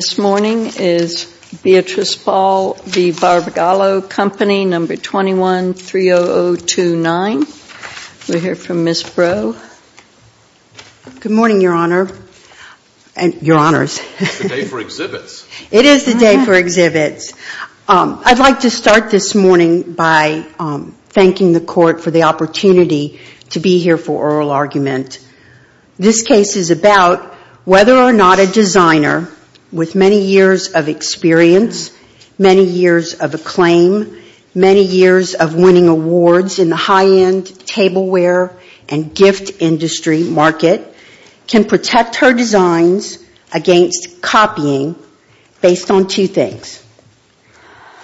This morning is Beatriz Ball v. Barbagallo Company, No. 21-30029. We'll hear from Ms. Brough. Good morning, Your Honor. Your Honors. It's the day for exhibits. It is the day for exhibits. I'd like to start this morning by thanking the Court for the opportunity to be here for oral argument. This case is about whether or not a designer with many years of experience, many years of acclaim, many years of winning awards in the high-end tableware and gift industry market can protect her designs against copying based on two things.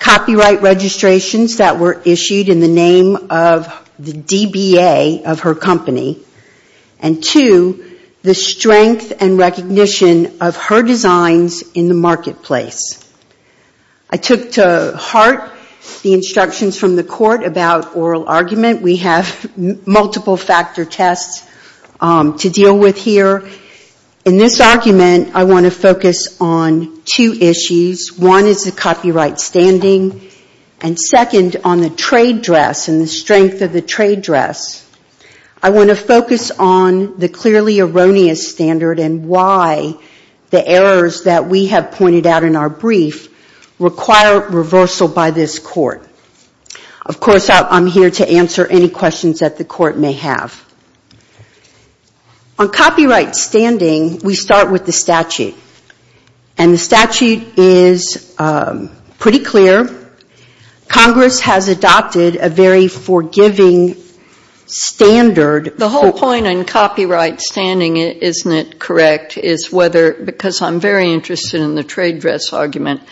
Copyright registrations that were issued in the name of the DBA of her designs in the marketplace. I took to heart the instructions from the Court about oral argument. We have multiple factor tests to deal with here. In this argument, I want to focus on two issues. One is the copyright standing, and second, on the trade dress and the strength of the trade dress. I want to focus on the clearly erroneous standard and why the errors that we have pointed out in our brief require reversal by this Court. Of course, I'm here to answer any questions that the Court may have. On copyright standing, we start with the statute. The statute is pretty clear. Congress has adopted a very forgiving standard. The whole point on copyright standing, isn't it correct, is whether, because I'm very interested in the trade dress argument,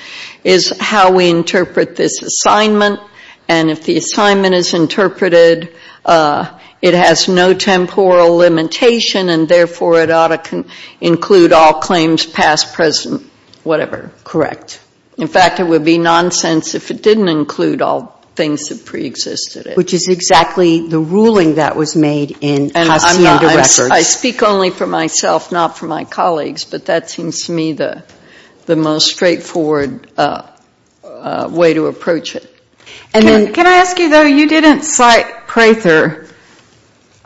is how we interpret this assignment. And if the assignment is interpreted, it has no temporal limitation, and therefore it ought to include all claims past, present, whatever. Correct. In fact, it would be nonsense if it didn't include all things that preexisted it. Which is exactly the ruling that was made in Hacienda Records. I speak only for myself, not for my colleagues, but that seems to me the most straightforward way to approach it. Can I ask you, though, you didn't cite Prather.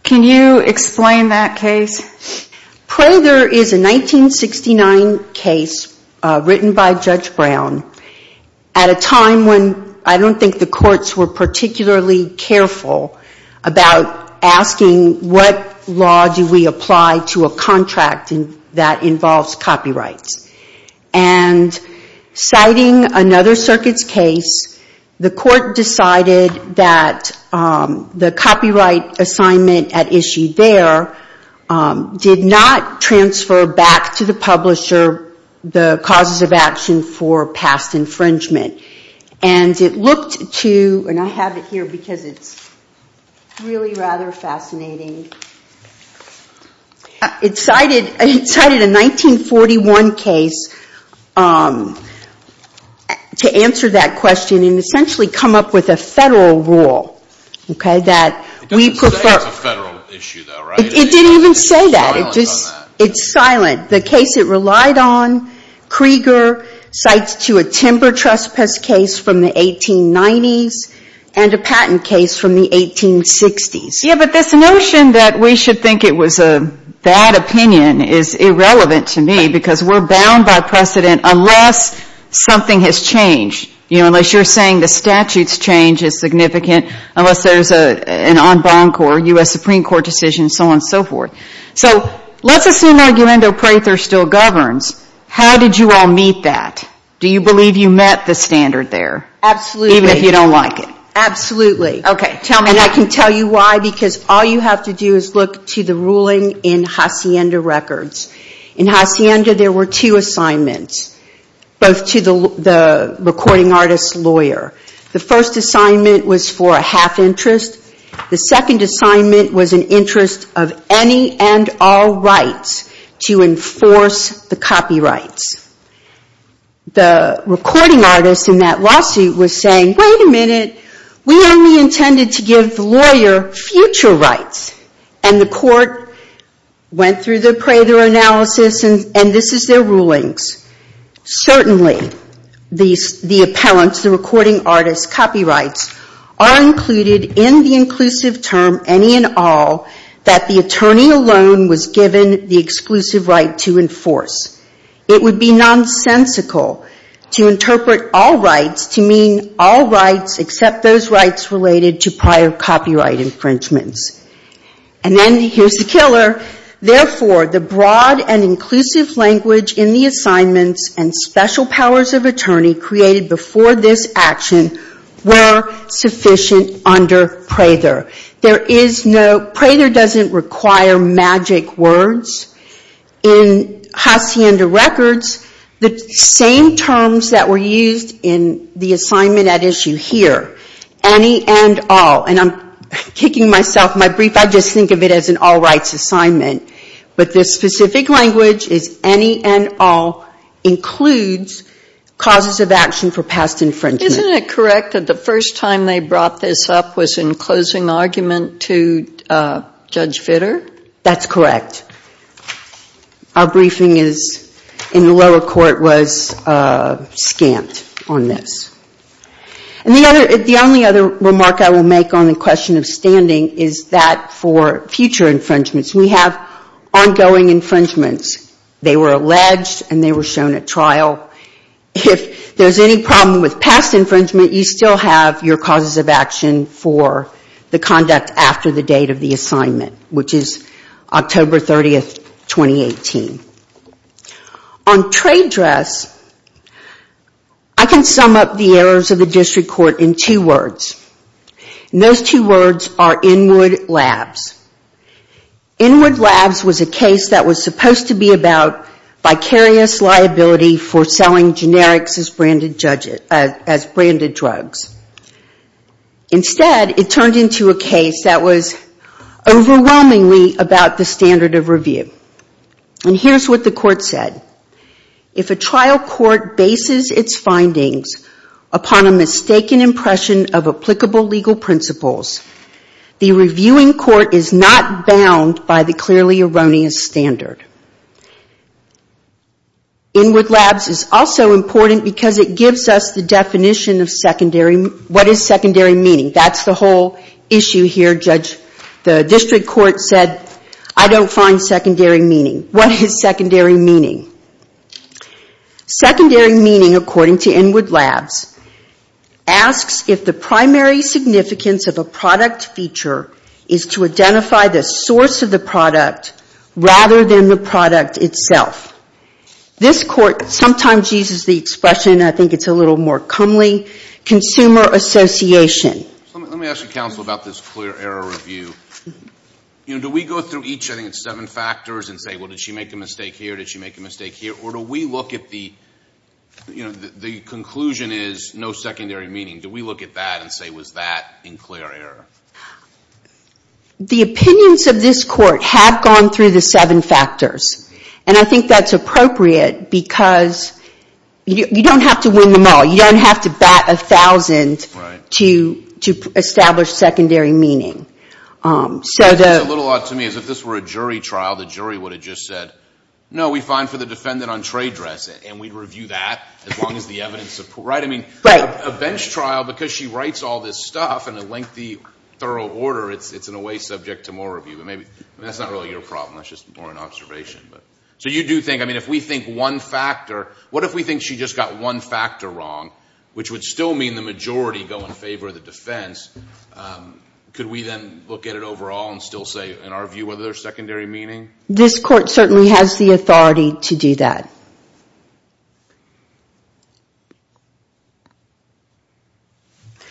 Can you explain that case? Prather is a 1969 case written by Judge Brown at a time when I don't think the courts were particularly careful about asking what law do we apply to a contract that involves copyrights. And citing another circuit's case, the Court decided that the copyright assignment at issue there did not transfer back to the publisher the causes of action for past infringement. And it looked to, and I have it here because it's really rather fascinating, it cited a 1941 case to answer that question and essentially come up with a federal rule, okay, that we prefer. It doesn't say it's a federal issue, though, right? It didn't even say that. It's silent on that. It's a patentless case from the 1890s and a patent case from the 1860s. Yeah, but this notion that we should think it was a bad opinion is irrelevant to me because we're bound by precedent unless something has changed, unless you're saying the statute's change is significant, unless there's an en banc or U.S. Supreme Court decision, so on and so forth. So let's assume Argumento Prather still governs. How did you all meet that? Do you believe you met the standard there, even if you don't like it? Absolutely. Okay, tell me. And I can tell you why, because all you have to do is look to the ruling in Hacienda Records. In Hacienda, there were two assignments, both to the recording artist's lawyer. The first assignment was for a half interest. The second assignment was an interest of any and all rights to enforce the copyrights. The recording artist in that lawsuit was saying, wait a minute, we only intended to give the lawyer future rights, and the court went through the Prather analysis, and this is their rulings. Certainly, the appellant, the recording artist's copyrights are included in the inclusive term, any and all, that the attorney alone was given the exclusive right to enforce. It would be nonsensical to interpret all rights to mean all rights except those rights related to prior copyright infringements. And then, here's the killer, therefore, the broad and inclusive language in the assignments and special powers of attorney created before this action were sufficient under Prather. There is no, Prather doesn't require magic words. In Hacienda Records, the same terms that were used in the assignment at issue here, any and all, and I'm kicking myself, my brief, I just think of it as an all rights assignment. But the specific language is any and all includes causes of action for past infringement. Isn't it correct that the first time they brought this up was in closing argument to Judge Vitter? That's correct. Our briefing in the lower court was scant on this. The only other remark I will make on the question of standing is that for future infringements, we have ongoing infringements. They were alleged, and they were shown at trial. If there's any problem with past infringement, you still have your causes of action for the conduct after the date of the assignment, which is October 30, 2018. On trade dress, I can sum up the errors of the district court in two words. And those two words are Inwood Labs. Inwood Labs was a case that was supposed to be about vicarious liability for selling generics as branded drugs. Instead, it turned into a case that was overwhelmingly about the standard of review. And here's what the court said. If a trial court bases its findings upon a mistaken impression of applicable legal principles, the reviewing court is not bound by the clearly erroneous standard. Inwood Labs is also important because it gives us the definition of what is secondary meaning. That's the whole issue here. Judge, the district court said, I don't find secondary meaning. What is secondary meaning? Secondary meaning, according to Inwood Labs, asks if the primary significance of a product feature is to identify the source of the product rather than the product itself. This court sometimes uses the expression, I think it's a little more comely, consumer association. Let me ask the counsel about this clear error review. You know, do we go through each, I think it's seven factors, and say, well, did she make a mistake here, did she make a mistake here? Or do we look at the, you know, the conclusion is no secondary meaning. Do we look at that and say, was that in clear error? The opinions of this court have gone through the seven factors. And I think that's appropriate because you don't have to win them all. You don't have to bat a thousand to establish secondary meaning. It's a little odd to me is if this were a jury trial, the jury would have just said, no, we find for the defendant on trade dress, and we'd review that as long as the evidence supports. I mean, a bench trial, because she writes all this stuff in a lengthy, thorough order, it's in a way subject to more review. That's not really your problem, that's just more an observation. So you do think, I mean, if we think one factor, what if we think she just got one factor wrong, which would still mean the majority go in favor of the defense, could we then look at it overall and still say, in our view, whether there's secondary meaning? This court certainly has the authority to do that.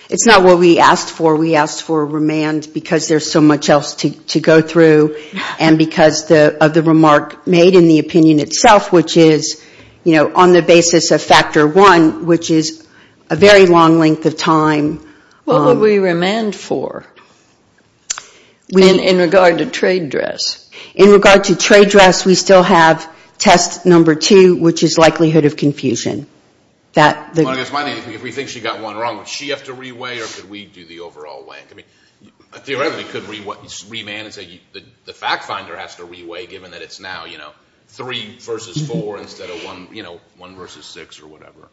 It's not what we asked for. We asked for remand because there's so much else to go through, and because of the remark made in the opinion itself, which is, you know, on the basis of factor one, which is a very long length of time. What would we remand for in regard to trade dress? In regard to trade dress, we still have test number two, which is likelihood of confusion. Well, I guess my thing is, if we think she got one wrong, would she have to reweigh, or could we do the overall weighing? I mean, theoretically, you could remand and say the fact finder has to reweigh, given that it's now, you know, three versus four instead of, you know, one versus six or whatever.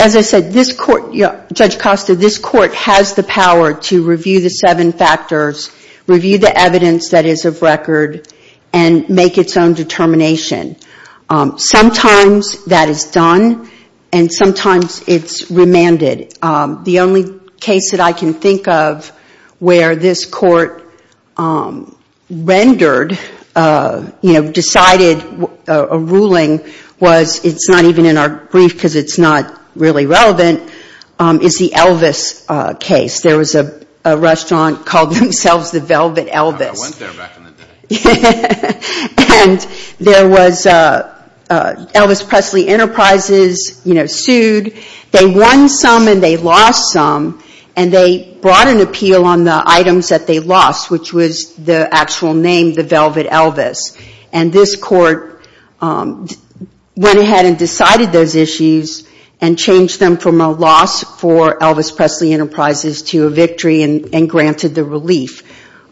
As I said, this court, Judge Costa, this court has the power to review the seven factors, review the evidence that is of record, and make its own determination. Sometimes that is done, and sometimes it's remanded. The only case that I can think of where this court rendered, you know, decided a ruling, was it's not even in our brief because it's not really relevant, is the Elvis case. There was a restaurant called themselves the Velvet Elvis. I went there back in the day. And there was Elvis Presley Enterprises, you know, sued. They won some and they lost some, and they brought an appeal on the items that they lost, which was the actual name, the Velvet Elvis. And this court went ahead and decided those issues and changed them from a loss for Elvis Presley Enterprises to a victory and granted the relief.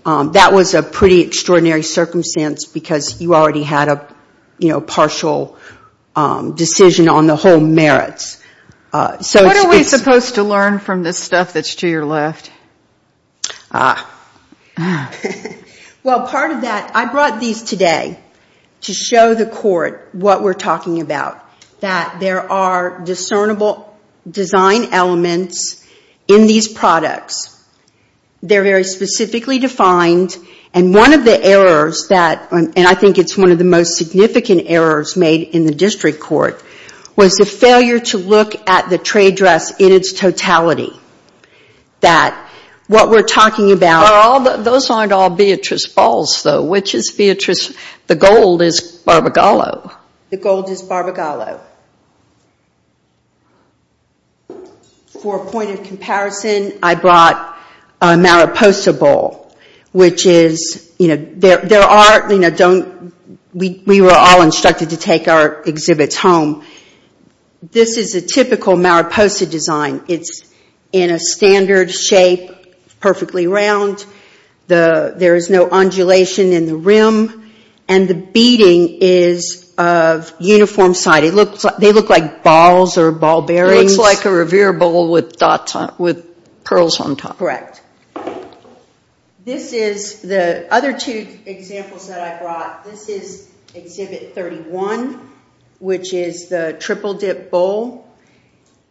That was a pretty extraordinary circumstance because you already had a, you know, partial decision on the whole merits. What are we supposed to learn from this stuff that's to your left? Ah. Well, part of that, I brought these today to show the court what we're talking about, that there are discernible design elements in these products. They're very specifically defined, and one of the errors that, and I think it's one of the most significant errors made in the district court, was the failure to look at the trade dress in its totality. That what we're talking about- Those aren't all Beatrice Balls, though. Which is Beatrice, the gold is Barbara Gallo. The gold is Barbara Gallo. For a point of comparison, I brought a Mariposa Ball, which is, you know, there are, you know, don't, we were all instructed to take our exhibits home. This is a typical Mariposa design. It's in a standard shape, perfectly round. There is no undulation in the rim, and the beading is of uniform side. It looks like, they look like balls or ball bearings. It looks like a revere ball with dots on, with pearls on top. Correct. This is, the other two examples that I brought, this is exhibit 31, which is the triple dip bowl,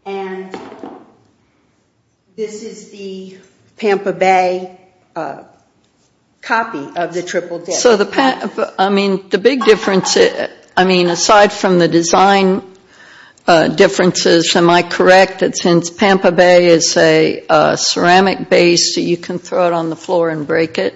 and this is the Pampa Bay copy of the triple dip. So the, I mean, the big difference, I mean, aside from the design differences, am I correct that since Pampa Bay is a ceramic base, you can throw it on the floor and break it?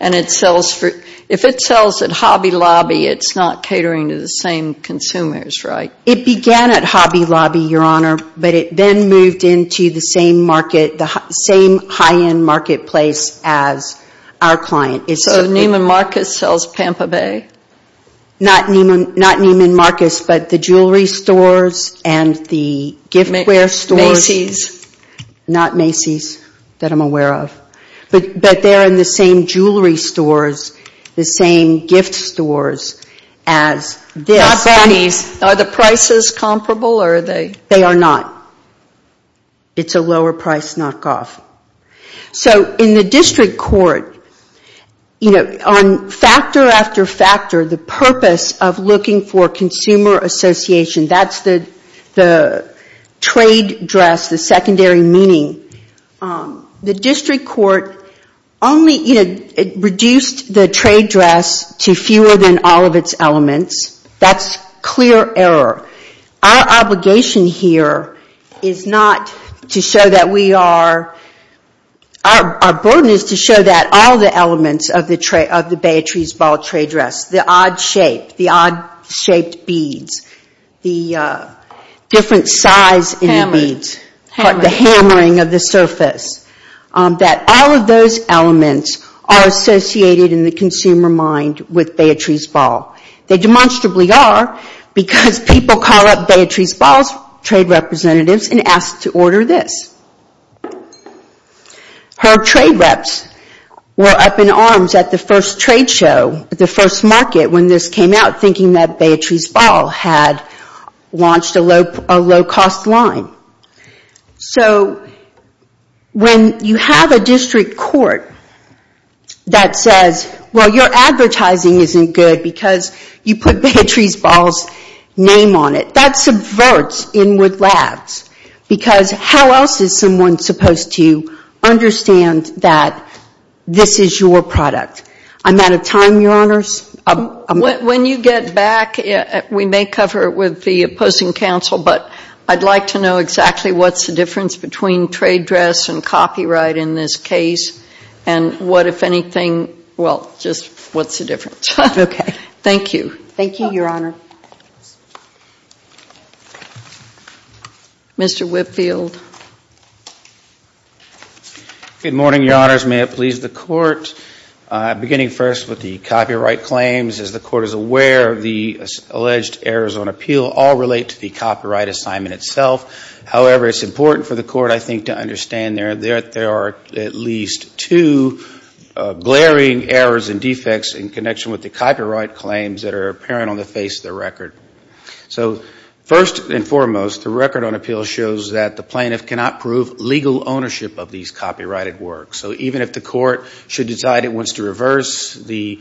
And it sells for, if it sells at Hobby Lobby, it's not catering to the same consumers, right? It began at Hobby Lobby, Your Honor, but it then moved into the same market, the same high-end marketplace as our client. So Neiman Marcus sells Pampa Bay? Not Neiman Marcus, but the jewelry stores and the gift ware stores. Macy's? Not Macy's, that I'm aware of. But they're in the same jewelry stores, the same gift stores as this. Not Bonnie's. Are the prices comparable, or are they? They are not. It's a lower price knockoff. So in the district court, you know, on factor after factor, the purpose of looking for consumer association, that's the trade dress, the secondary meaning, the district court only reduced the trade dress to fewer than all of its elements. That's clear error. Our obligation here is not to show that we are, our burden is to show that all the elements of the Beatrice Ball trade dress, the odd shape, the odd shaped beads, the different size in the beads, the hammering of the surface, that all of those elements are associated in the consumer mind with Beatrice Ball. They demonstrably are because people call up Beatrice Ball's trade representatives and ask to order this. Her trade reps were up in arms at the first trade show, the first market when this came out, thinking that Beatrice Ball had launched a low-cost line. So when you have a district court that says, well, your advertising isn't good because you put Beatrice Ball's name on it, that subverts inward labs because how else is someone supposed to understand that this is your product? I'm out of time, Your Honors. When you get back, we may cover it with the opposing counsel, but I'd like to know exactly what's the difference between trade dress and copyright in this case, and what, if anything, well, just what's the difference? Okay. Thank you. Thank you, Your Honor. Mr. Whitfield. Good morning, Your Honors. May it please the Court. Beginning first with the copyright claims, as the Court is aware the alleged errors on appeal all relate to the copyright assignment itself. However, it's important for the Court, I think, to understand there are at least two glaring errors and defects in connection with the copyright claims that are apparent on the face of the record. So first and foremost, the record on appeal shows that the plaintiff cannot prove legal ownership of these copyrighted works. So even if the Court should decide it wants to reverse the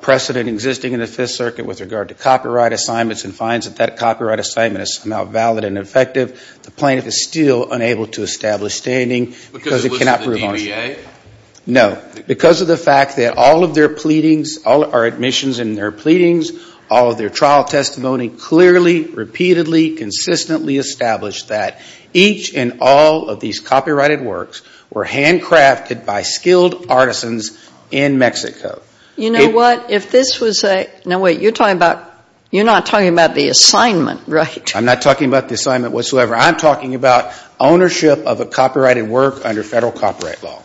precedent existing in the Fifth Circuit with regard to copyright assignments and finds that that copyright assignment is now valid and effective, the plaintiff is still unable to establish standing because it cannot prove ownership. Because of the DBA? No. Because of the fact that all of their pleadings, all of our admissions in their pleadings, all of their trial testimony clearly, repeatedly, consistently established that each and all of these copyrighted works were handcrafted by skilled artisans in Mexico. You know what? If this was a no, wait, you're talking about you're not talking about the assignment, right? I'm not talking about the assignment whatsoever. I'm talking about ownership of a copyrighted work under Federal copyright law.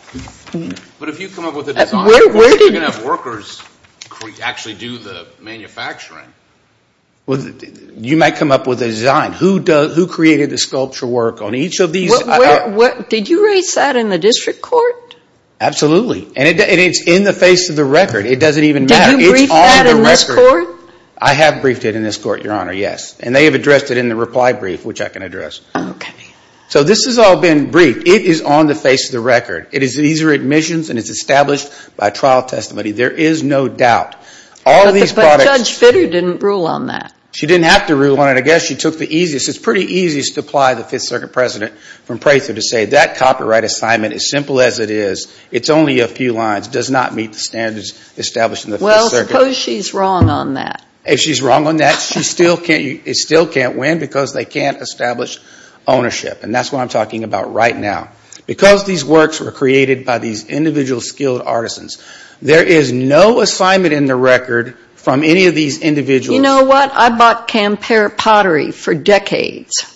But if you come up with a design, you're going to have workers actually do the manufacturing. Well, you might come up with a design. Who created the sculpture work on each of these? Did you raise that in the District Court? Absolutely. And it's in the face of the record. It doesn't even matter. Did you brief that in this Court? I have briefed it in this Court, Your Honor, yes. And they have addressed it in the reply brief, which I can address. Okay. So this has all been briefed. It is on the face of the record. These are admissions and it's established by trial testimony. There is no doubt. But Judge Fitter didn't rule on that. She didn't have to rule on it. I guess she took the easiest, it's pretty easiest to apply the Fifth Circuit President from Prather to say that copyright assignment, as simple as it is, it's only a few lines, does not meet the standards established in the Fifth Circuit. Well, suppose she's wrong on that. If she's wrong on that, it still can't win because they can't establish ownership. And that's what I'm talking about right now. Because these works were created by these individual skilled artisans, there is no assignment in the record from any of these individuals. You know what? I bought Camper pottery for decades.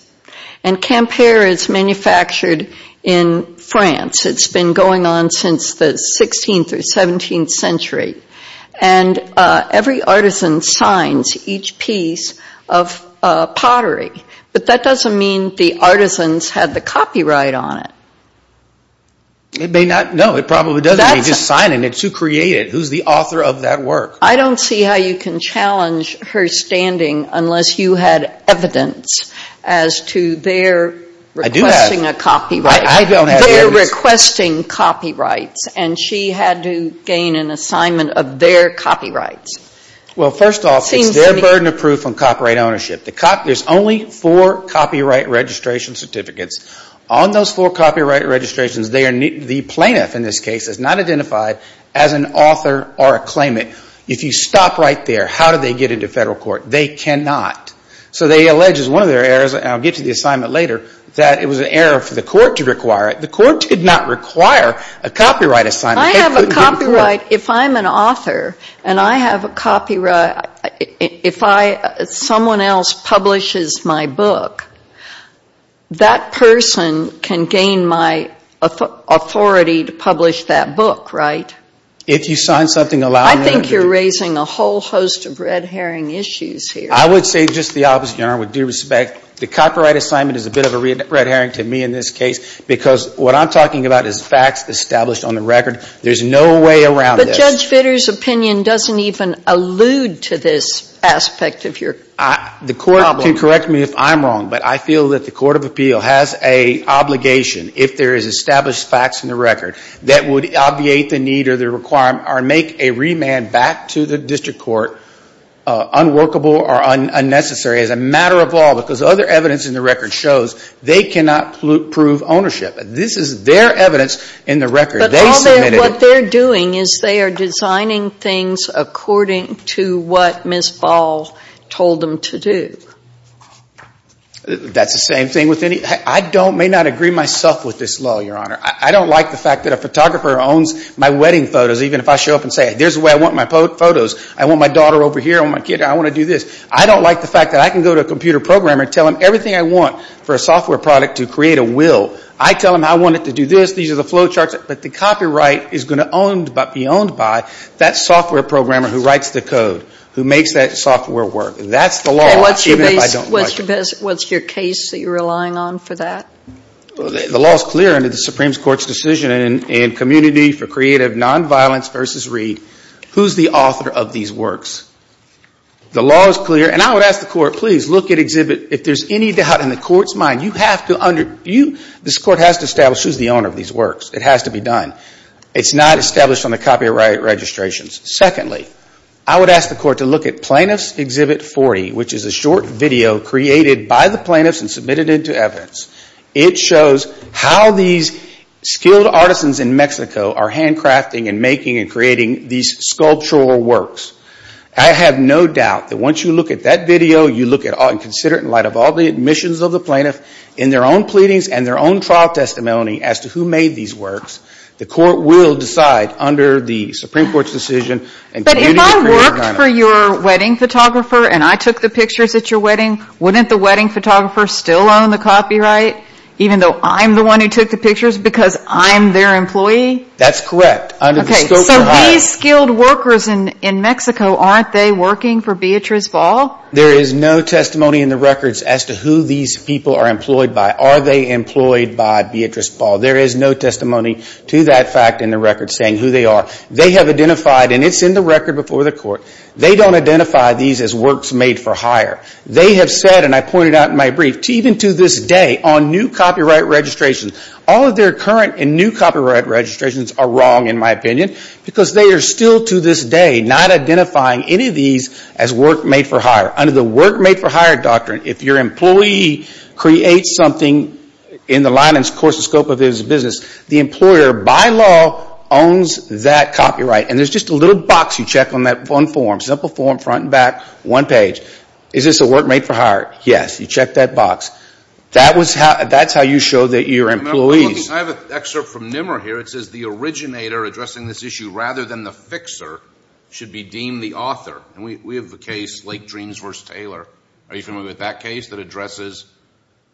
And Camper is manufactured in France. It's been going on since the 16th or 17th century. And every artisan signs each piece of pottery. But that doesn't mean the artisans had the copyright on it. It may not. No, it probably doesn't. They just sign it and it's who created it. Who's the author of that work? I don't see how you can challenge her standing unless you had evidence as to their requesting a copyright. I do have. I don't have evidence. Their requesting copyrights. And she had to gain an assignment of their copyrights. Well, first off, it's their burden of proof on copyright ownership. There's only four copyright registration certificates. On those four copyright registrations, the plaintiff in this case is not identified as an author or a claimant. If you stop right there, how do they get into federal court? They cannot. So they allege, as one of their errors, and I'll get to the assignment later, that it was an error for the court to require it. The court did not require a copyright assignment. I have a copyright. If I'm an author and I have a copyright, if someone else publishes my book, that person can gain my authority to publish that book, right? If you sign something allowing them to. I think you're raising a whole host of red herring issues here. I would say just the opposite, Your Honor, with due respect. The copyright assignment is a bit of a red herring to me in this case because what I'm talking about is facts established on the record. There's no way around this. But Judge Vitter's opinion doesn't even allude to this aspect of your problem. The court can correct me if I'm wrong, but I feel that the court of appeal has an obligation, if there is established facts in the record, that would obviate the need or the requirement or make a remand back to the district court unworkable or unnecessary as a matter of law because other evidence in the record shows they cannot prove ownership. This is their evidence in the record. They submitted it. But what they're doing is they are designing things according to what Ms. Ball told them to do. That's the same thing with any – I may not agree myself with this law, Your Honor. I don't like the fact that a photographer owns my wedding photos, even if I show up and say, there's the way I want my photos. I want my daughter over here. I want my kid. I want to do this. I don't like the fact that I can go to a computer programmer and tell him everything I want for a software product to create a will. I tell him I want it to do this. These are the flow charts. But the copyright is going to be owned by that software programmer who writes the code, who makes that software work. That's the law, even if I don't like it. What's your case that you're relying on for that? The law is clear under the Supreme Court's decision in Community for Creative Nonviolence v. Reed. Who's the author of these works? The law is clear. And I would ask the Court, please, look at Exhibit. If there's any doubt in the Court's mind, you have to – this Court has to establish who's the owner of these works. It has to be done. It's not established on the copyright registrations. Secondly, I would ask the Court to look at Plaintiffs' Exhibit 40, which is a short video created by the plaintiffs and submitted into evidence. It shows how these skilled artisans in Mexico are handcrafting and making and creating these sculptural works. I have no doubt that once you look at that video, you look at it and consider it in light of all the admissions of the plaintiff in their own pleadings and their own trial testimony as to who made these works, the Court will decide under the Supreme Court's decision in Community for Creative Nonviolence. But if I worked for your wedding photographer and I took the pictures at your wedding, wouldn't the wedding photographer still own the copyright, even though I'm the one who took the pictures because I'm their employee? That's correct. Okay. So these skilled workers in Mexico, aren't they working for Beatriz Ball? There is no testimony in the records as to who these people are employed by. Are they employed by Beatriz Ball? There is no testimony to that fact in the records saying who they are. They have identified, and it's in the record before the Court, they don't identify these as works made for hire. They have said, and I pointed out in my brief, even to this day on new copyright registrations, all of their current and new copyright registrations are wrong, in my opinion, because they are still to this day not identifying any of these as work made for hire. Under the work made for hire doctrine, if your employee creates something in the line and of course the scope of his business, the employer, by law, owns that copyright. And there's just a little box you check on that one form, simple form, front and back, one page. Is this a work made for hire? Yes. You check that box. That's how you show that you're employees. I have an excerpt from NMR here. It says the originator addressing this issue rather than the fixer should be deemed the author. And we have a case, Lake Dreams v. Taylor. Are you familiar with that case that addresses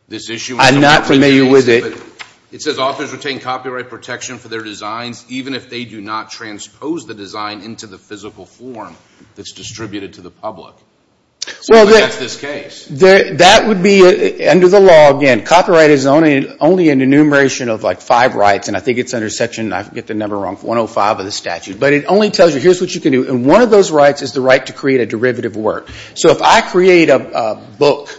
this issue? I'm not familiar with it. It says authors retain copyright protection for their designs even if they do not transpose the design into the physical form that's distributed to the public. So that's this case. That would be, under the law, again, copyright is only an enumeration of like five rights, and I think it's under Section, I get the number wrong, 105 of the statute. But it only tells you here's what you can do. And one of those rights is the right to create a derivative work. So if I create a book,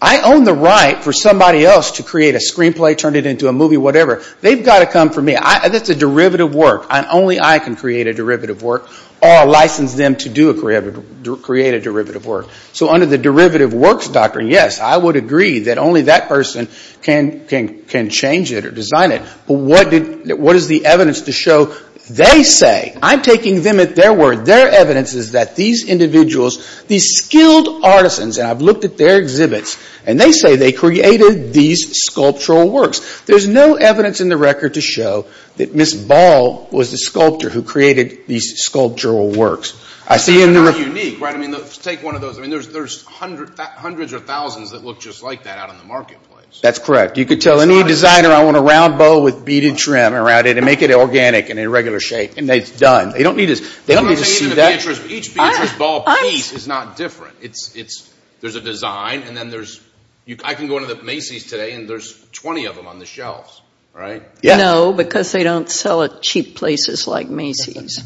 I own the right for somebody else to create a screenplay, turn it into a movie, whatever. They've got to come for me. That's a derivative work. Only I can create a derivative work or license them to create a derivative work. So under the derivative works doctrine, yes, I would agree that only that person can change it or design it. But what is the evidence to show they say, I'm taking them at their word, their evidence is that these individuals, these skilled artisans, and I've looked at their exhibits, and they say they created these sculptural works. There's no evidence in the record to show that Ms. Ball was the sculptor who created these sculptural works. I see in the record. It's not unique, right? I mean, take one of those. I mean, there's hundreds or thousands that look just like that out in the marketplace. That's correct. You could tell any designer I want a round bowl with beaded trim around it and make it organic and in regular shape, and it's done. They don't need to see that. Each Beatrice Ball piece is not different. There's a design, and then there's – I can go into the Macy's today, and there's 20 of them on the shelves, right? No, because they don't sell at cheap places like Macy's.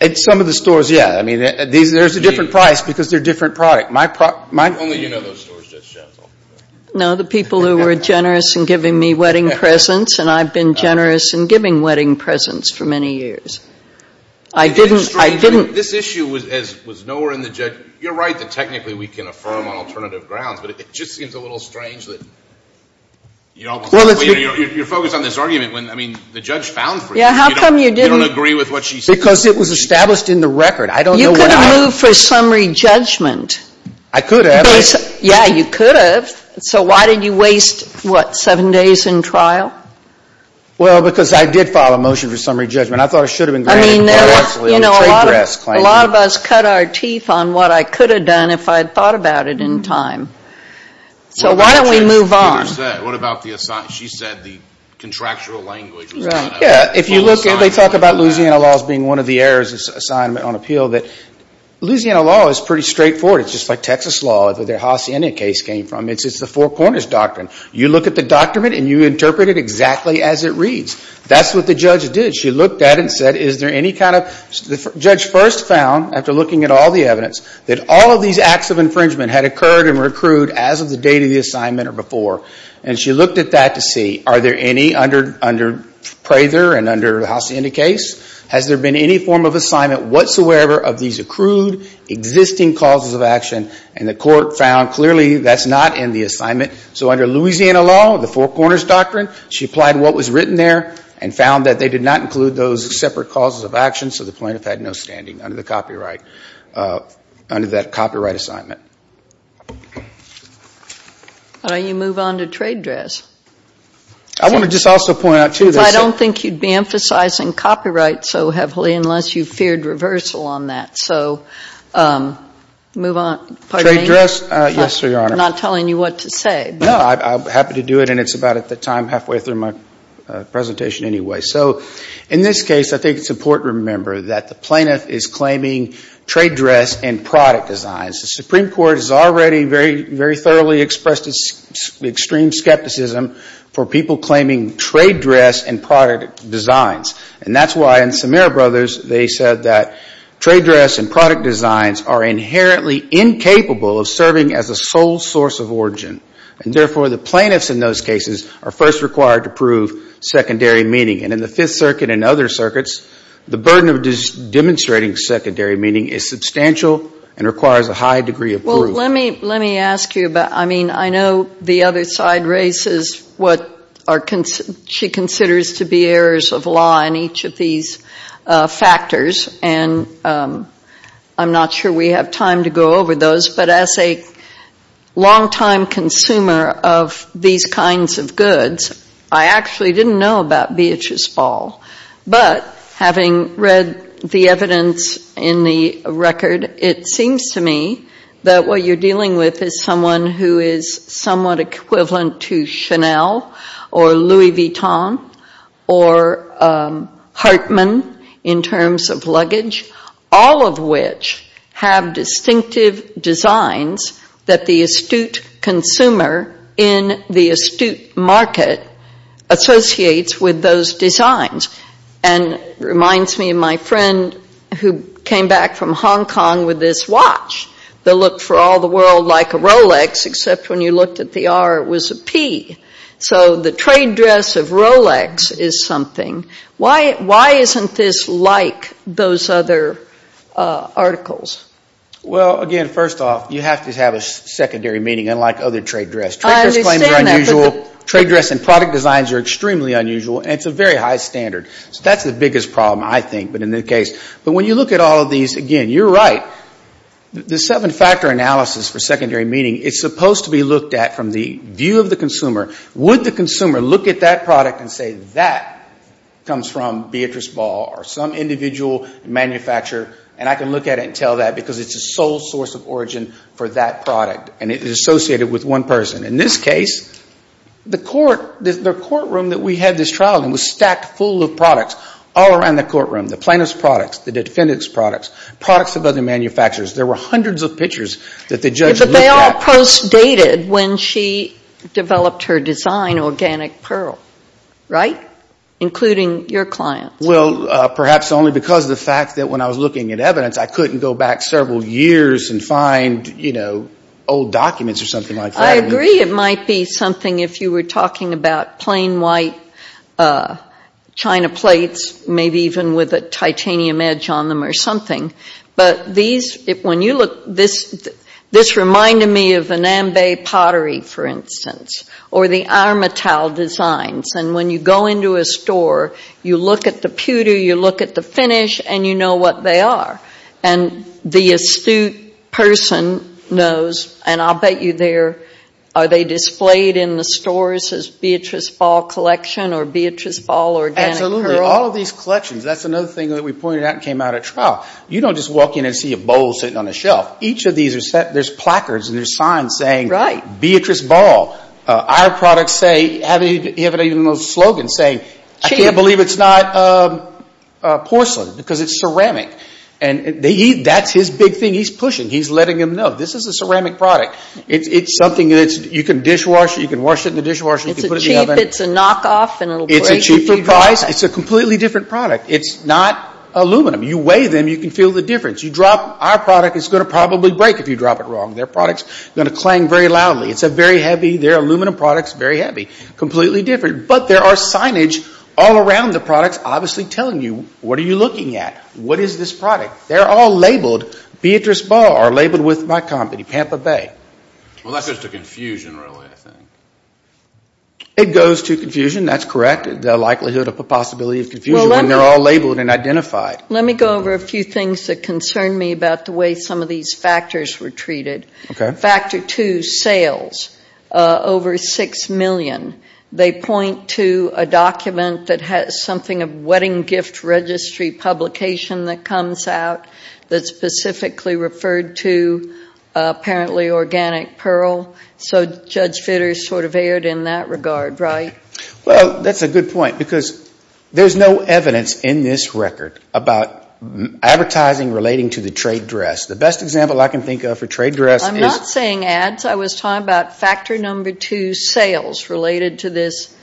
At some of the stores, yeah. I mean, there's a different price because they're a different product. Only you know those stores, Jeff. No, the people who were generous in giving me wedding presents, and I've been generous in giving wedding presents for many years. I didn't – This issue was nowhere in the – you're right that technically we can affirm on alternative grounds, but it just seems a little strange that you don't – you're focused on this argument when, I mean, the judge found for you. Yeah, how come you didn't – You don't agree with what she said. Because it was established in the record. I don't know why – You could have moved for summary judgment. I could have. Yeah, you could have. So why did you waste, what, seven days in trial? Well, because I did file a motion for summary judgment. I thought I should have been granted – I mean, you know, a lot of us cut our teeth on what I could have done if I had thought about it in time. So why don't we move on? What about the – she said the contractual language was – Yeah, if you look at – they talk about Louisiana laws being one of the errors of assignment on appeal, that Louisiana law is pretty straightforward. It's just like Texas law, where the Hacienda case came from. It's the four corners doctrine. You look at the document and you interpret it exactly as it reads. That's what the judge did. She looked at it and said, is there any kind of – the judge first found, after looking at all the evidence, that all of these acts of infringement had occurred and were accrued as of the date of the assignment or before. And she looked at that to see, are there any under Prather and under the Hacienda case? Has there been any form of assignment whatsoever of these accrued existing causes of action? And the court found, clearly, that's not in the assignment. So under Louisiana law, the four corners doctrine, she applied what was written there and found that they did not include those separate causes of action, so the plaintiff had no standing under the copyright – under that copyright assignment. Why don't you move on to trade dress? I want to just also point out, too – Because I don't think you'd be emphasizing copyright so heavily unless you feared reversal on that. So move on. Trade dress? Yes, Your Honor. I'm not telling you what to say. No, I'm happy to do it, and it's about at the time, halfway through my presentation anyway. So in this case, I think it's important to remember that the plaintiff is claiming trade dress and product designs. The Supreme Court has already very thoroughly expressed its extreme skepticism for people claiming trade dress and product designs, and that's why in Samir Brothers they said that trade dress and product designs are inherently incapable of serving as a sole source of origin, and therefore the plaintiffs in those cases are first required to prove secondary meaning. And in the Fifth Circuit and other circuits, the burden of demonstrating secondary meaning is substantial and requires a high degree of proof. Well, let me ask you about – I mean, I know the other side raises what she considers to be errors of law in each of these factors, and I'm not sure we have time to go over those. But as a longtime consumer of these kinds of goods, I actually didn't know about Beatrice Ball. But having read the evidence in the record, it seems to me that what you're dealing with is someone who is somewhat equivalent to Chanel or Louis Vuitton or Hartman in terms of luggage, all of which have distinctive designs that the astute consumer in the astute market associates with those designs. And it reminds me of my friend who came back from Hong Kong with this watch that looked for all the world like a Rolex except when you looked at the R it was a P. So the trade dress of Rolex is something. Why isn't this like those other articles? Well, again, first off, you have to have a secondary meaning unlike other trade dress. I understand that. It's unusual. Trade dress and product designs are extremely unusual, and it's a very high standard. So that's the biggest problem, I think, but in this case. But when you look at all of these, again, you're right. The seven-factor analysis for secondary meaning, it's supposed to be looked at from the view of the consumer. Would the consumer look at that product and say that comes from Beatrice Ball or some individual manufacturer? And I can look at it and tell that because it's the sole source of origin for that product, and it is associated with one person. In this case, the courtroom that we had this trial in was stacked full of products all around the courtroom, the plaintiff's products, the defendant's products, products of other manufacturers. There were hundreds of pictures that the judge looked at. But they all post-dated when she developed her design, Organic Pearl, right, including your client. Well, perhaps only because of the fact that when I was looking at evidence, I couldn't go back several years and find, you know, old documents or something like that. I agree it might be something if you were talking about plain white china plates, maybe even with a titanium edge on them or something. But these, when you look, this reminded me of the Nambe pottery, for instance, or the Armitauld designs. And when you go into a store, you look at the pewter, you look at the finish, and you know what they are. And the astute person knows, and I'll bet you they're, are they displayed in the stores as Beatrice Ball Collection or Beatrice Ball Organic Pearl? Absolutely. All of these collections, that's another thing that we pointed out and came out at trial. You don't just walk in and see a bowl sitting on a shelf. Each of these are set, there's placards and there's signs saying Beatrice Ball. Our products say, have it even a slogan saying, I can't believe it's not porcelain because it's ceramic. And that's his big thing. He's pushing. He's letting them know, this is a ceramic product. It's something that you can dishwasher, you can wash it in the dishwasher, you can put it in the oven. It's a cheap, it's a knockoff, and it'll break if you drop it. It's a cheaper price. It's a completely different product. It's not aluminum. You weigh them, you can feel the difference. You drop our product, it's going to probably break if you drop it wrong. Their product's going to clang very loudly. It's a very heavy, their aluminum product's very heavy. Completely different. But there are signage all around the products obviously telling you, what are you looking at? What is this product? They're all labeled, Beatrice Ball are labeled with my company, Pampa Bay. Well, that goes to confusion really I think. It goes to confusion, that's correct. The likelihood of a possibility of confusion when they're all labeled and identified. Let me go over a few things that concern me about the way some of these factors were treated. Okay. Factor two, sales. Over 6 million. They point to a document that has something of wedding gift registry publication that comes out that's specifically referred to apparently organic pearl. So Judge Fitter sort of erred in that regard, right? Well, that's a good point because there's no evidence in this record about advertising relating to the trade dress. The best example I can think of for trade dress is. I'm not saying ads. I was talking about factor number two, sales, related to this.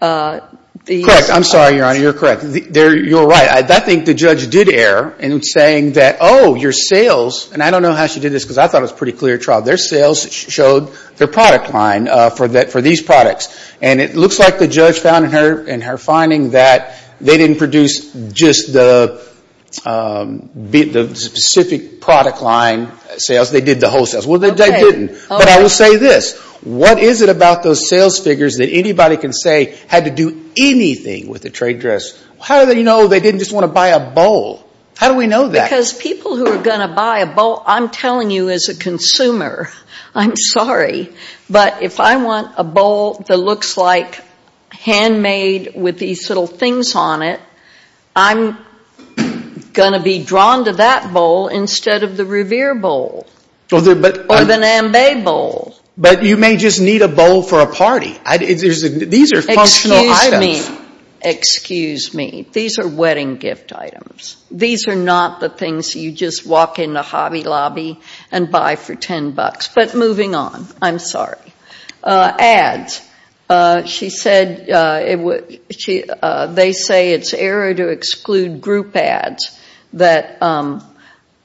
Correct. I'm sorry, Your Honor. You're correct. You're right. I think the judge did err in saying that, oh, your sales. And I don't know how she did this because I thought it was a pretty clear trial. Their sales showed their product line for these products. And it looks like the judge found in her finding that they didn't produce just the specific product line sales. They did the whole sales. Well, they didn't. But I will say this. What is it about those sales figures that anybody can say had to do anything with the trade dress? How do they know they didn't just want to buy a bowl? How do we know that? Because people who are going to buy a bowl, I'm telling you as a consumer, I'm sorry. But if I want a bowl that looks like handmade with these little things on it, I'm going to be drawn to that bowl instead of the Revere bowl. Or the NAMBE bowl. But you may just need a bowl for a party. These are functional items. Excuse me. Excuse me. These are wedding gift items. These are not the things you just walk into Hobby Lobby and buy for $10. But moving on. I'm sorry. Ads. She said they say it's error to exclude group ads, that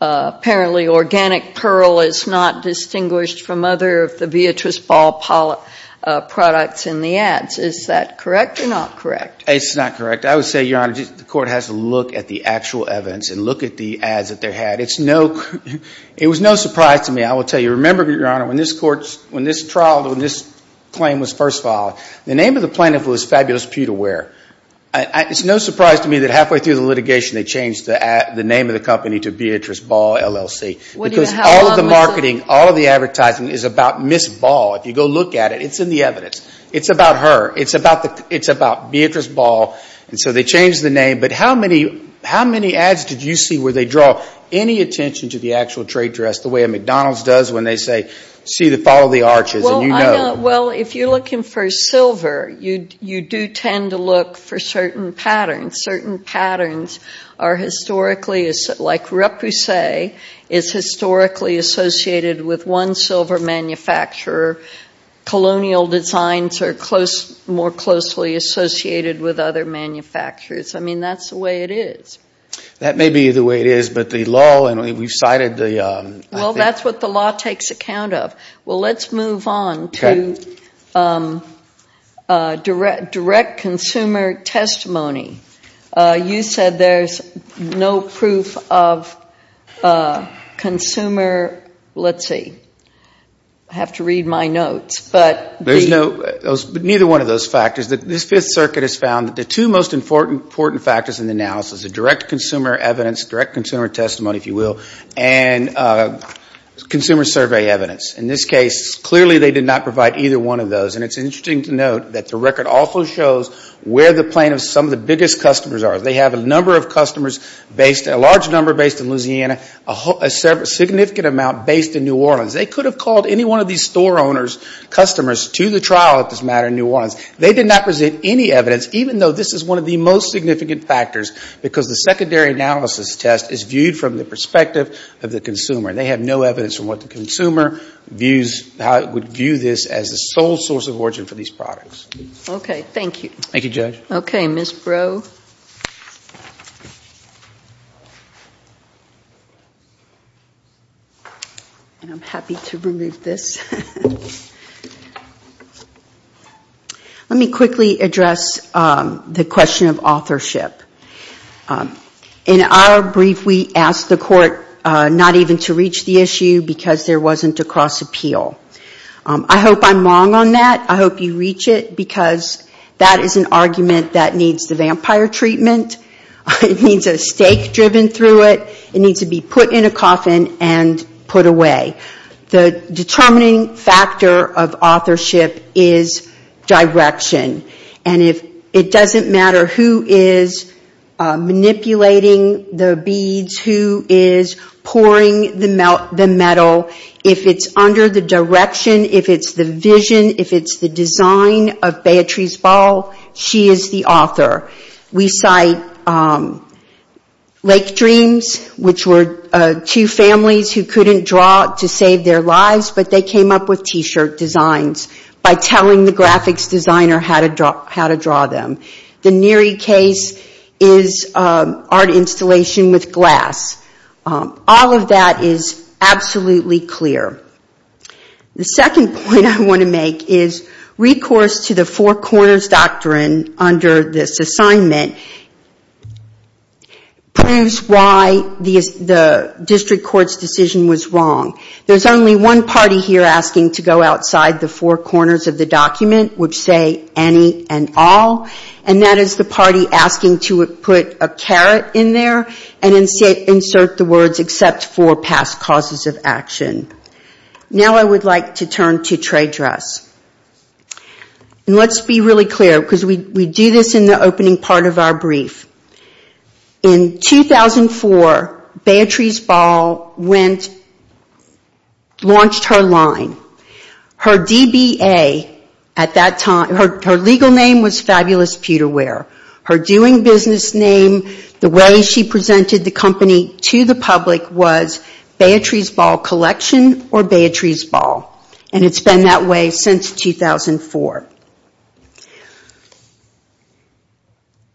apparently Organic Pearl is not distinguished from other of the Beatrice Ball products in the ads. Is that correct or not correct? It's not correct. I would say, Your Honor, the Court has to look at the actual evidence and look at the ads that they had. It was no surprise to me, I will tell you. I remember, Your Honor, when this trial, when this claim was first filed, the name of the plaintiff was Fabulous Pewterware. It's no surprise to me that halfway through the litigation they changed the name of the company to Beatrice Ball, LLC. Because all of the marketing, all of the advertising is about Ms. Ball. If you go look at it, it's in the evidence. It's about her. It's about Beatrice Ball. And so they changed the name. But how many ads did you see where they draw any attention to the actual trade dress, the way a McDonald's does when they say, see, follow the arches, and you know. Well, if you're looking for silver, you do tend to look for certain patterns. Certain patterns are historically, like repoussé, is historically associated with one silver manufacturer. Colonial designs are more closely associated with other manufacturers. I mean, that's the way it is. That may be the way it is, but the law, and we've cited the- Well, that's what the law takes account of. Well, let's move on to direct consumer testimony. You said there's no proof of consumer, let's see, I have to read my notes, but- There's no, neither one of those factors. This Fifth Circuit has found that the two most important factors in the analysis are direct consumer evidence, direct consumer testimony, if you will, and consumer survey evidence. In this case, clearly they did not provide either one of those. And it's interesting to note that the record also shows where the plaintiffs, some of the biggest customers are. They have a number of customers based, a large number based in Louisiana, a significant amount based in New Orleans. They could have called any one of these store owners, customers, to the trial at this matter in New Orleans. They did not present any evidence, even though this is one of the most significant factors, because the secondary analysis test is viewed from the perspective of the consumer. They have no evidence from what the consumer views, how it would view this as the sole source of origin for these products. Okay, thank you. Thank you, Judge. Okay, Ms. Brough. Thank you. I'm happy to remove this. Let me quickly address the question of authorship. In our brief, we asked the court not even to reach the issue because there wasn't a cross appeal. I hope I'm wrong on that. I hope you reach it because that is an argument that needs the vampire treatment. It needs a stake driven through it. It needs to be put in a coffin and put away. The determining factor of authorship is direction. And it doesn't matter who is manipulating the beads, who is pouring the metal. If it's under the direction, if it's the vision, if it's the design of Beatrice Ball, she is the author. We cite Lake Dreams, which were two families who couldn't draw to save their lives, but they came up with T-shirt designs by telling the graphics designer how to draw them. The Neary case is art installation with glass. All of that is absolutely clear. The second point I want to make is recourse to the four corners doctrine under this assignment proves why the district court's decision was wrong. There's only one party here asking to go outside the four corners of the document, which say any and all. And that is the party asking to put a caret in there and insert the words except for past causes of action. Now I would like to turn to trade dress. Let's be really clear because we do this in the opening part of our brief. In 2004, Beatrice Ball launched her line. Her DBA at that time, her legal name was Fabulous Pewterware. Her doing business name, the way she presented the company to the public was Beatrice Ball Collection or Beatrice Ball. And it's been that way since 2004.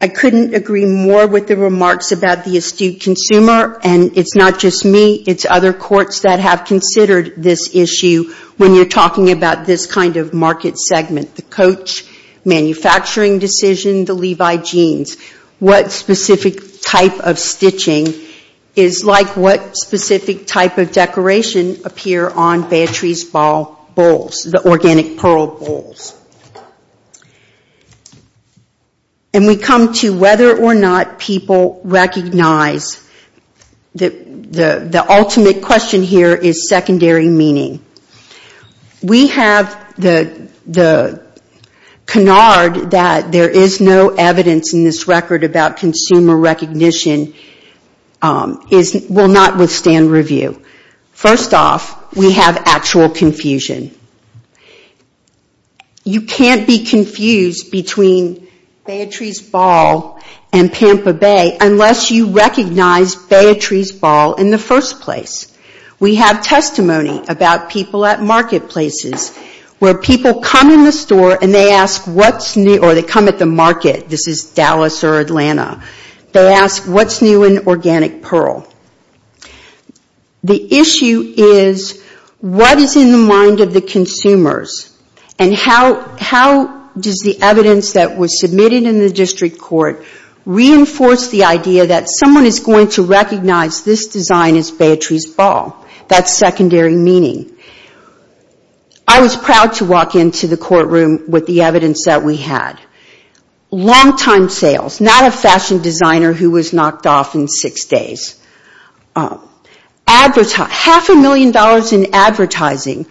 I couldn't agree more with the remarks about the astute consumer. And it's not just me, it's other courts that have considered this issue when you're talking about this kind of market segment. The coach manufacturing decision, the Levi jeans. What specific type of stitching is like what specific type of decoration appear on Beatrice Ball bowls, the organic pearl bowls. And we come to whether or not people recognize the ultimate question here is secondary meaning. We have the canard that there is no evidence in this record about consumer recognition will not withstand review. First off, we have actual confusion. You can't be confused between Beatrice Ball and Pampa Bay unless you recognize Beatrice Ball in the first place. We have testimony about people at marketplaces where people come in the store and they ask what's new or they come at the market. This is Dallas or Atlanta. They ask what's new in organic pearl. How does the evidence that was submitted in the district court reinforce the idea that someone is going to recognize this design as Beatrice Ball? That's secondary meaning. I was proud to walk into the courtroom with the evidence that we had. Long-time sales, not a fashion designer who was knocked off in six days. Half a million dollars in advertising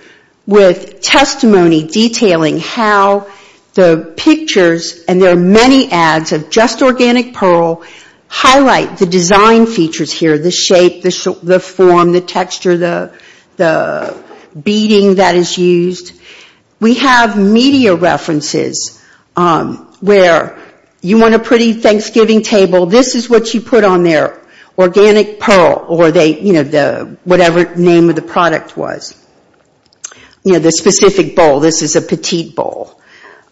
with testimony detailing how the pictures and there are many ads of just organic pearl highlight the design features here. The shape, the form, the texture, the beading that is used. We have media references where you want a pretty Thanksgiving table, this is what you put on there. Organic pearl or whatever the name of the product was. The specific bowl, this is a petite bowl.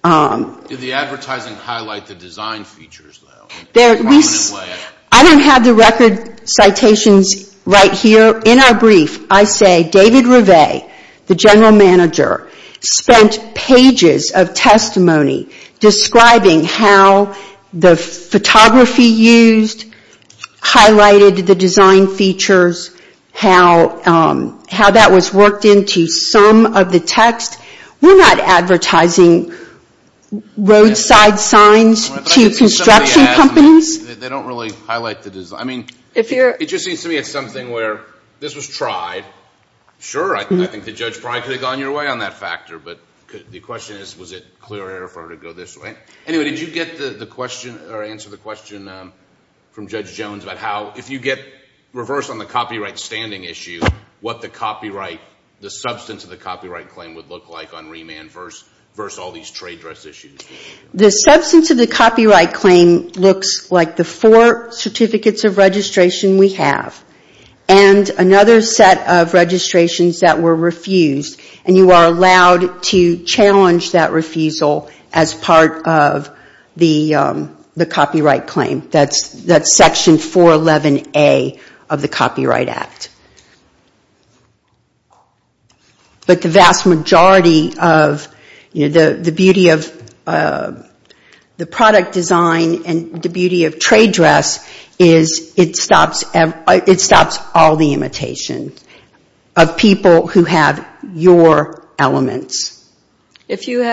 Did the advertising highlight the design features? I don't have the record citations right here. In our brief, I say David Rive, the general manager, spent pages of testimony describing how the photography used, highlighted the design features, how that was worked into some of the text. We're not advertising roadside signs to construction companies. It just seems to me it's something where this was tried. Sure, I think the judge probably could have gone your way on that factor, but the question is, was it clear for her to go this way? Did you get the question or answer the question from Judge Jones about how if you get reversed on the copyright standing issue, what the substance of the copyright claim would look like on remand versus all these trade dress issues? The substance of the copyright claim looks like the four certificates of registration we have. And another set of registrations that were refused. And you are allowed to challenge that refusal as part of the copyright claim. That's section 411A of the Copyright Act. But the vast majority of the beauty of the product design and the beauty of trade dress, is it stops all the imitation of people who have your elements. You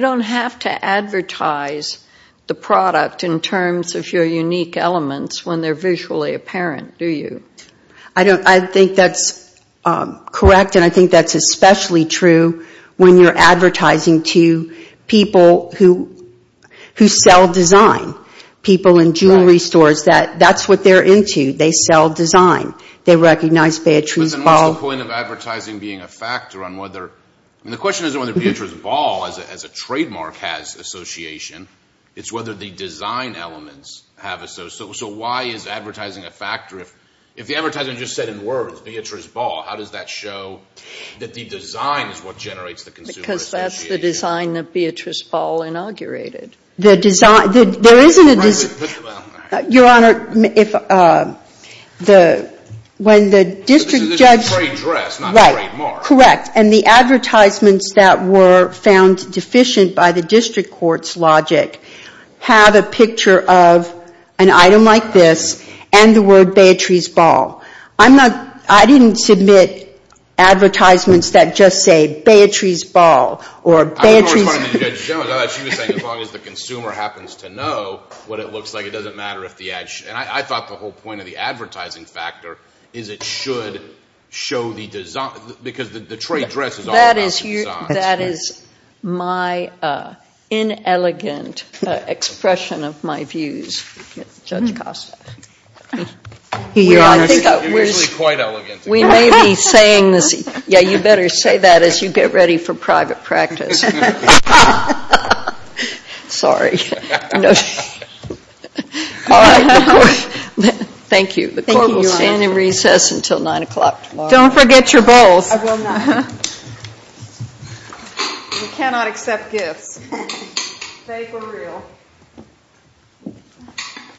don't have to advertise the product in terms of your unique elements when they're visually apparent, do you? I think that's correct. And I think that's especially true when you're advertising to people who sell design. People in jewelry stores, that's what they're into. They sell design. They recognize Beatrice Ball. So why is advertising a factor? If the advertiser just said in words, Beatrice Ball, how does that show that the design is what generates the consumer association? Because that's the design that Beatrice Ball inaugurated. There isn't a design. When the district judge... Correct. And the advertisements that were found deficient by the district court's logic, have a picture of an item like this and the word Beatrice Ball. I didn't submit advertisements that just say Beatrice Ball or Beatrice... I didn't respond to Judge Jones. I thought she was saying as long as the consumer happens to know what it looks like, it doesn't matter if the ad... And I thought the whole point of the advertising factor is it should show the design. That is my inelegant expression of my views. You better say that as you get ready for private practice. Sorry. Thank you. We cannot accept gifts. Fake or real.